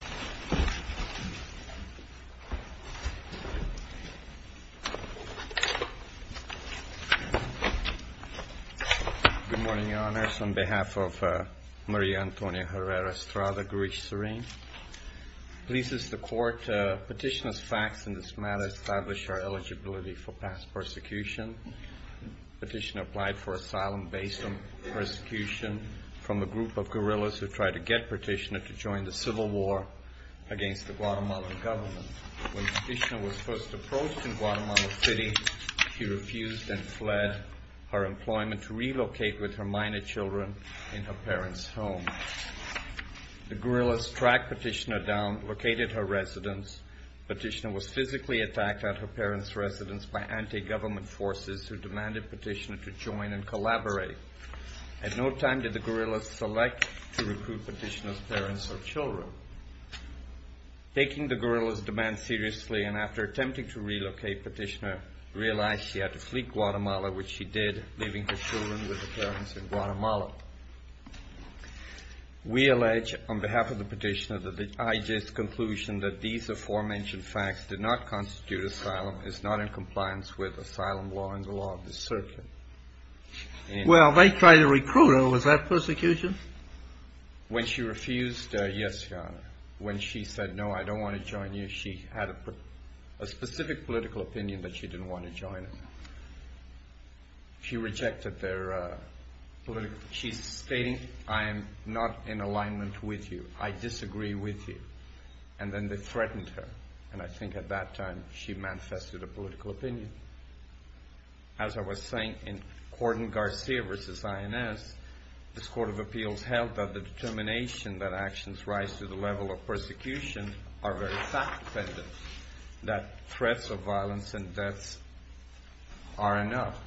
Good morning, Your Honors. On behalf of Maria Antonia Herrera-Estrada, Gurich-Serene, it pleases the Court that Petitioner's facts in this matter establish our eligibility for past persecution. Petitioner applied for asylum based on persecution from a group of guerrillas who tried to get Petitioner to join the Civil War against the Guatemalan government. When Petitioner was first approached in Guatemala City, he refused and fled her employment to relocate with her minor children in her parents' home. The guerrillas tracked Petitioner down, located her residence. Petitioner was physically attacked at her parents' residence by anti-government forces who demanded Petitioner to join and collaborate. At no time did the guerrillas select to recruit Petitioner's parents or children. Taking the guerrillas' demand seriously and after attempting to relocate, Petitioner realized she had to flee Guatemala, which she did, leaving her children with the parents in Guatemala. We allege, on behalf of the Petitioner, that the IJ's conclusion that these aforementioned facts did not constitute asylum is not in compliance with asylum law and the law of the circuit. Well, they tried to recruit her. Was that persecution? When she refused, yes, Your Honor. When she said, no, I don't want to join you, she had a specific political opinion that she didn't want to join us. She rejected their political opinion. She's stating, I am not in alignment with you. I disagree with you. And then they threatened her. And I think at that time she manifested a political opinion. As I was saying, in Gordon Garcia v. INS, this Court of Appeals held that the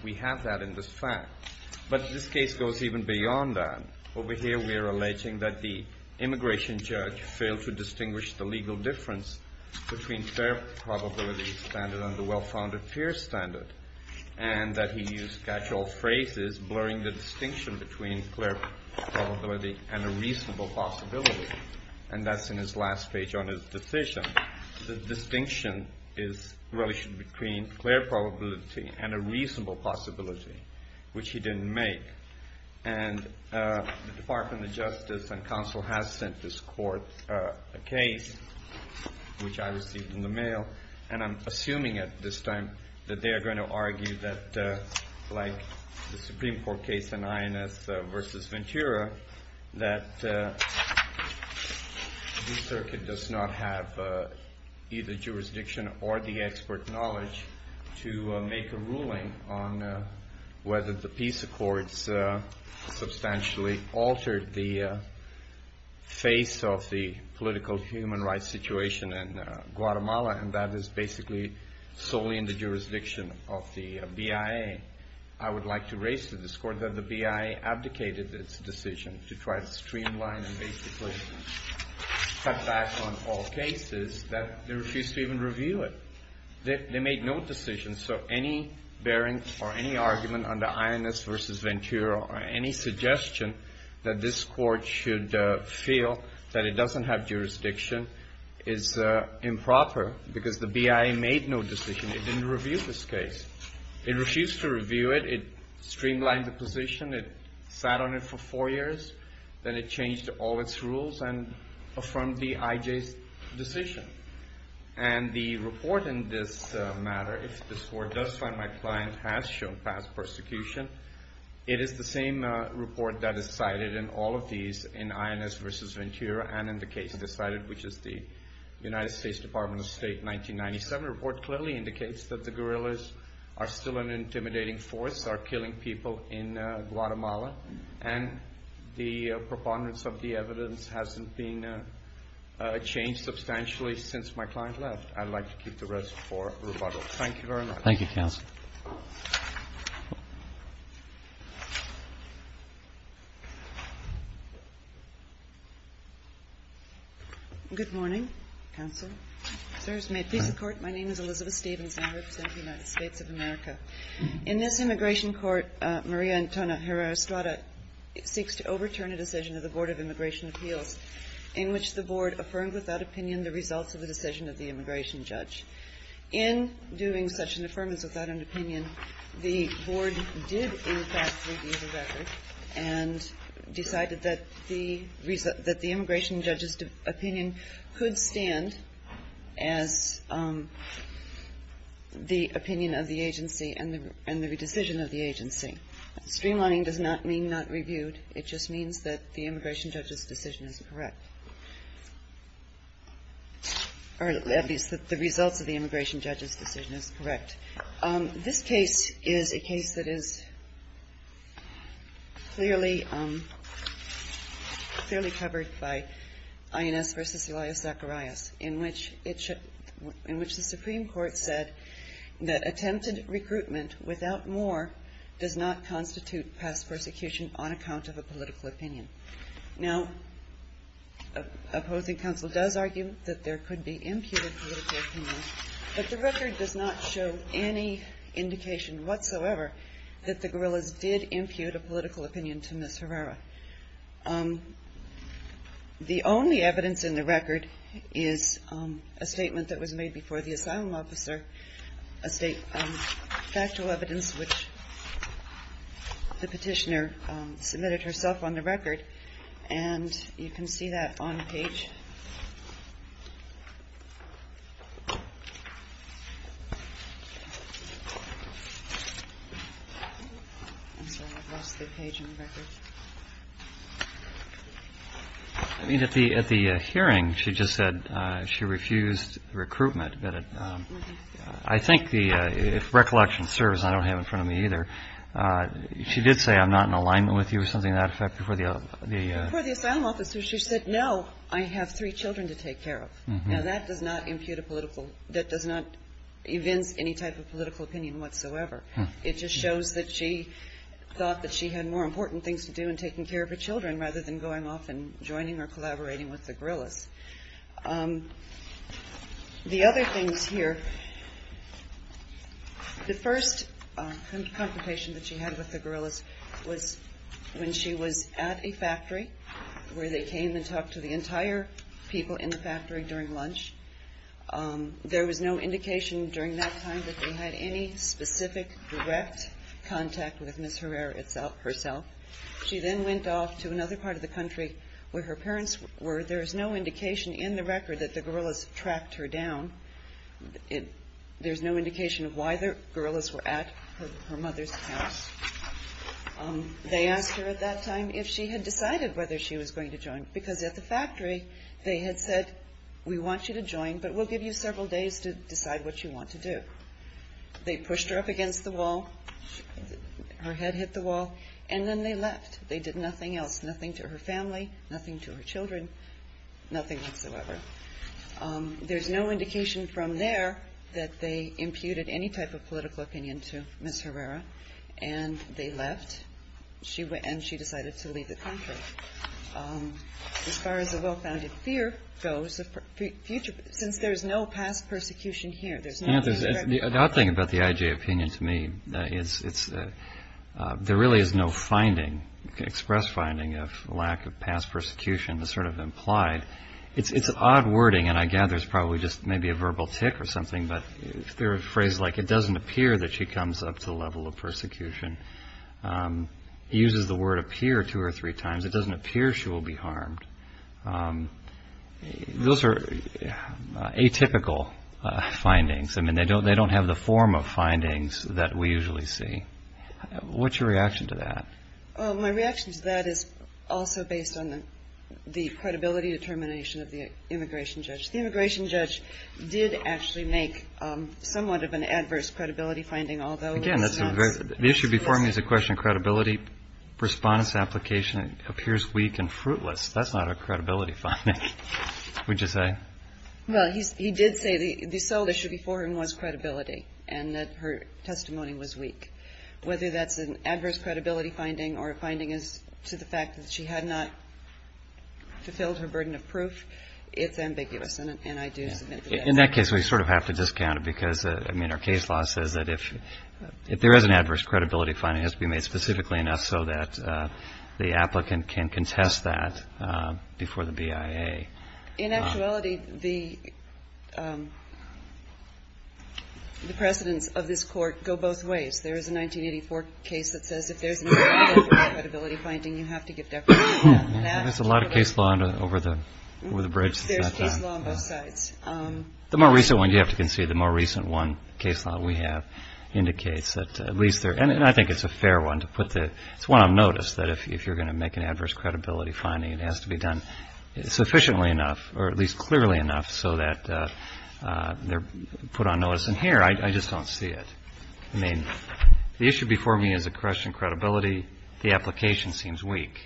We have that in this fact. But this case goes even beyond that. Over here we are alleging that the immigration judge failed to distinguish the legal difference between fair probability standard and the well-founded fear standard, and that he used catch-all phrases blurring the distinction between clear probability and a reasonable possibility. And that's in his last page on his decision. The distinction is really between clear probability and a reasonable possibility, which he didn't make. And the Department of Justice and counsel has sent this court a case, which I received in the mail. And I'm assuming at this time that they are going to argue that, like the Supreme Court case in INS v. Ventura, that the circuit does not have either jurisdiction or the expert knowledge to make a ruling on whether the peace accords substantially altered the face of the political human rights situation in Guatemala, and that is basically solely in the jurisdiction of the BIA. I would like to raise to this court that the BIA abdicated its decision to try to streamline and basically cut back on all cases, that they refused to even review it. They made no decision. So any bearing or any argument under INS v. Ventura or any suggestion that this court should feel that it doesn't have jurisdiction is improper, because the BIA made no decision. It didn't review this case. It refused to review it. It streamlined the position. It sat on it for four years. Then it changed all its rules and affirmed the IJ's decision. And the report in this matter, if this court does find my client has shown past persecution, it is the same report that is cited in all of these in INS v. Ventura and in the case decided, which is the United States Department of State 1997 report, clearly indicates that the guerrillas are still an intimidating force, are killing people in Guatemala, and the preponderance of the evidence hasn't been changed substantially since my client left. I'd like to keep the rest for rebuttal. Thank you very much. Thank you, counsel. Good morning, counsel. Sirs, may it please the Court, my name is Elizabeth Stevens, and I represent the United States of America. In this immigration court, Maria Antonia Herrera-Estrada seeks to overturn a decision of the Board of Immigration Appeals in which the Board affirmed without opinion the results of the decision of the immigration judge. In doing such an affirmance without an opinion, the Board did, in fact, review the record and decided that the immigration judge's opinion could stand as the opinion of the agency and the decision of the agency. Streamlining does not mean not reviewed, it just means that the immigration judge's decision is correct, or at least that the results of the immigration judge's decision is correct. This case is a case that is clearly covered by INS v. Elias Zacharias, in which the Supreme Court said that attempted recruitment without more does not constitute on account of a political opinion. Now, opposing counsel does argue that there could be imputed political opinion, but the record does not show any indication whatsoever that the guerrillas did impute a political opinion to Ms. Herrera. The only evidence in the record is a statement that was made before the asylum officer, factual evidence which the petitioner submitted herself on the record, and you can see that on the page. At the hearing, she just said she refused recruitment, but I think if recollection serves, I don't have it in front of me either, she did say I'm not in alignment with you or something to that effect before the asylum officer, she said no, I have three children to take care of. Now that does not impute a political, that does not evince any type of political opinion whatsoever. It just shows that she thought that she had more important things to do in taking care of her children rather than going off and joining or collaborating with the guerrillas. The other things here, the first confrontation that she had with the guerrillas was when she was at a factory where they came and talked to the entire people in the factory during lunch. There was no indication during that time that they had any specific direct contact with Ms. Herrera herself. She then went off to another part of the country where her parents were. There is no indication in the record that the guerrillas tracked her down. There is no indication of why the guerrillas were at her mother's house. They asked her at that time if she had decided whether she was going to join because at the factory they had said we want you to join but we'll give you several days to decide what you want to do. They pushed her up against the wall, her head hit the wall and then they left. They did nothing else, nothing to her family, nothing to her children, nothing whatsoever. There's no indication from there that they imputed any type of political opinion to Ms. Herrera and they left and she decided to leave the country. As far as the well-founded fear goes, since there is no past persecution here, there's not a direct... There's a lot of wording and I gather it's probably just maybe a verbal tick or something but there are phrases like it doesn't appear that she comes up to the level of persecution. He uses the word appear two or three times. It doesn't appear she will be harmed. Those are atypical findings. They don't have the form of findings that we usually see. What's your reaction to that? My reaction to that is also based on the credibility determination of the immigration judge. The immigration judge did actually make somewhat of an adverse credibility finding although... Again, the issue before me is a question of credibility. Respondents' application appears weak and fruitless. That's not a credibility finding, would you say? He did say the sole issue before him was credibility and that her testimony was weak. Whether that's an adverse credibility finding or a finding as to the fact that she had not fulfilled her burden of proof, it's ambiguous and I do submit to that. In that case, we sort of have to discount it because our case law says that if there is an adverse credibility finding, it has to be made specifically enough so that the applicant can contest that before the BIA. In actuality, the precedents of this court go both ways. There is a 1984 case that says if there's an adverse credibility finding, you have to give deference to that. There's a lot of case law over the bridge. There's case law on both sides. The more recent one, you have to concede, the more recent one case law we have indicates that at least there... And I think it's a fair one to put the... It's one on notice that if you're going to make an adverse credibility finding, it has to be done sufficiently enough or at least clearly enough so that they're put on notice. And here, I just don't see it. I mean, the issue before me is a question of credibility. The application seems weak.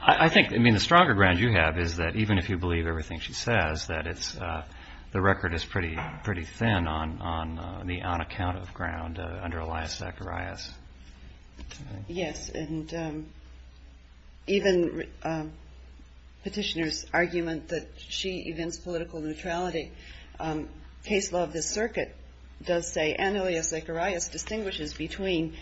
I think, I mean, the stronger ground you have is that even if you believe everything she says, that the record is pretty thin on the on account of ground under Elias Zacharias. Yes, and even petitioner's argument that she evinced political neutrality. Case law of this circuit does say, and Elias Zacharias distinguishes between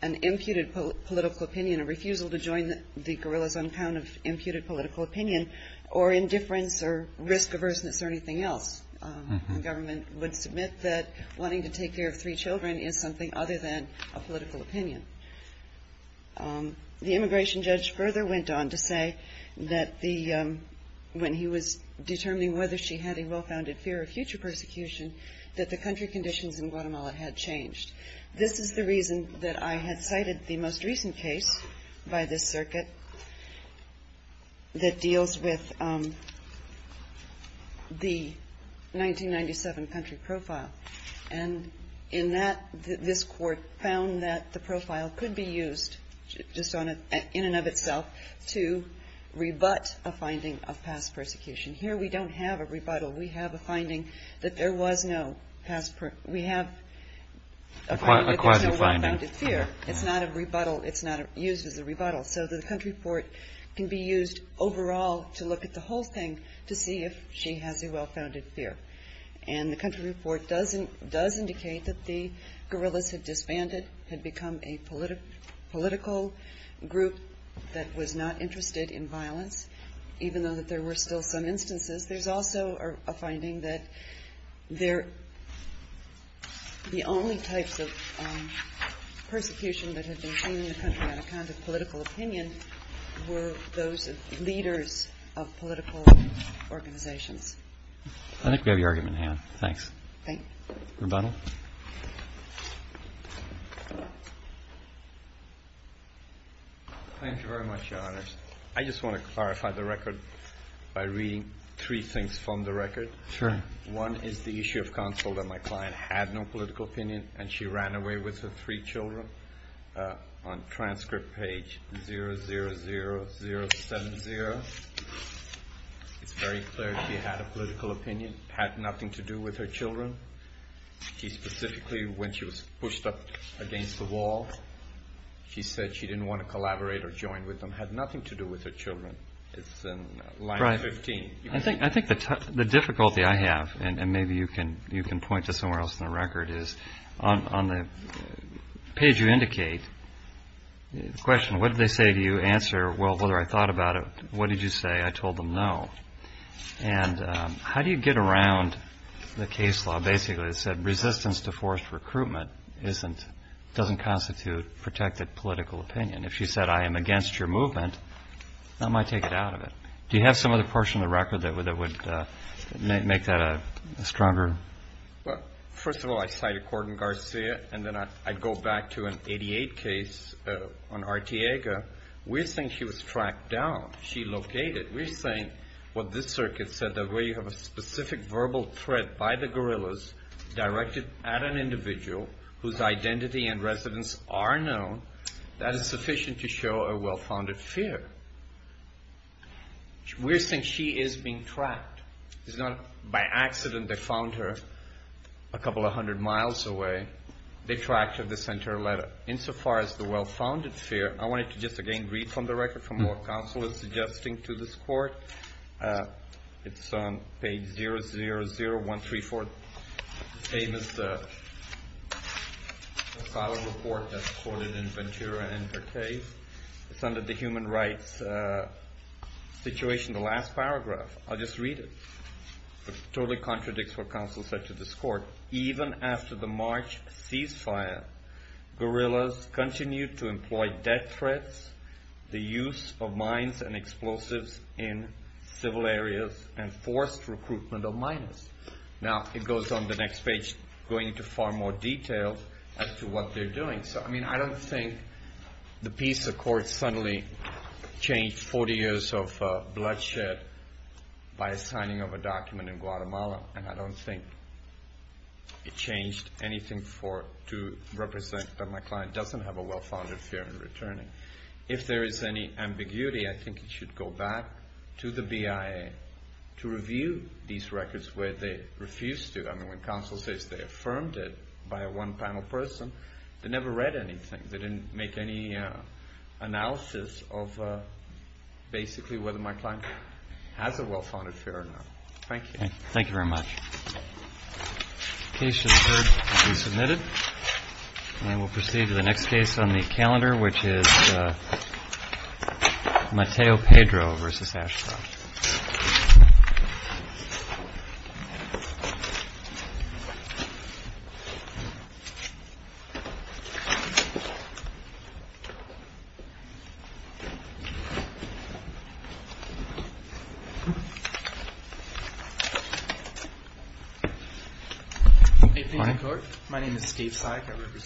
an imputed political opinion, a refusal to join the guerrillas on account of imputed political opinion, or indifference or risk averseness or anything else. The government would submit that wanting to take care of three children is something other than a political opinion. The immigration judge further went on to say that the... When he was determining whether she had a well-founded fear of future persecution, that the country conditions in Guatemala had changed. This is the reason that I had cited the most recent case by this circuit that deals with the 1997 country profile. And in that, this court found that the profile could be used just in and of itself to rebut a finding of past persecution. Here we don't have a rebuttal. We have a finding that there was no past... We have a finding that there's no well-founded fear. It's not a rebuttal. It's not used as a rebuttal. So the country report can be used overall to look at the whole thing to see if she has a well-founded fear. And the country report does indicate that the guerrillas had disbanded, had become a political group that was not interested in violence, even though that there were still some instances. There's also a finding that the only types of persecution that had been seen in the country on account of political opinion were those of leaders of political organizations. I think we have your argument in hand. Thanks. Thank you. Thank you very much, Your Honors. I just want to clarify the record by reading three things from the record. Sure. One is the issue of counsel that my client had no political opinion, and she ran away with her three children. On transcript page 00070, it's very clear she had a political opinion. It had nothing to do with her children. She specifically, when she was pushed up against the wall, she said she didn't want to collaborate or join with them. It had nothing to do with her children. It's in line 15. I think the difficulty I have, and maybe you can point to somewhere else in the record, is on the page you indicate, the question, what did they say to you? Answer, well, whether I thought about it. What did you say? I told them no. And how do you get around the case law basically that said resistance to forced recruitment doesn't constitute protected political opinion? If you said I am against your movement, I might take it out of it. Do you have some other portion of the record that would make that a stronger? Well, first of all, I cite a court in Garcia, and then I go back to an 88 case on Artiega. We're saying she was tracked down. She located. We're saying what this circuit said, that where you have a specific verbal threat by the guerrillas directed at an individual whose identity and residence are known, that is sufficient to show a well-founded fear. We're saying she is being tracked. It's not by accident they found her a couple of hundred miles away. They tracked her. They sent her a letter. Insofar as the well-founded fear, I wanted to just again read from the record from what counsel is suggesting to this court. It's on page 000134. The same as the file report that's quoted in Ventura and her case. It's under the human rights situation, the last paragraph. I'll just read it. It totally contradicts what counsel said to this court. Even after the March ceasefire, guerrillas continued to employ death threats, the use of mines and explosives in civil areas, and forced recruitment of miners. Now, it goes on the next page going into far more detail as to what they're doing. I don't think the peace accord suddenly changed 40 years of bloodshed by signing of a document in Guatemala. And I don't think it changed anything to represent that my client doesn't have a well-founded fear in returning. If there is any ambiguity, I think it should go back to the BIA to review these records where they refused to. I mean, when counsel says they affirmed it by a one-panel person, they never read anything. They didn't make any analysis of basically whether my client has a well-founded fear or not. Thank you. Thank you very much. The case to the third has been submitted. And we'll proceed to the next case on the calendar, which is Mateo Pedro versus Ashcroft. Thank you.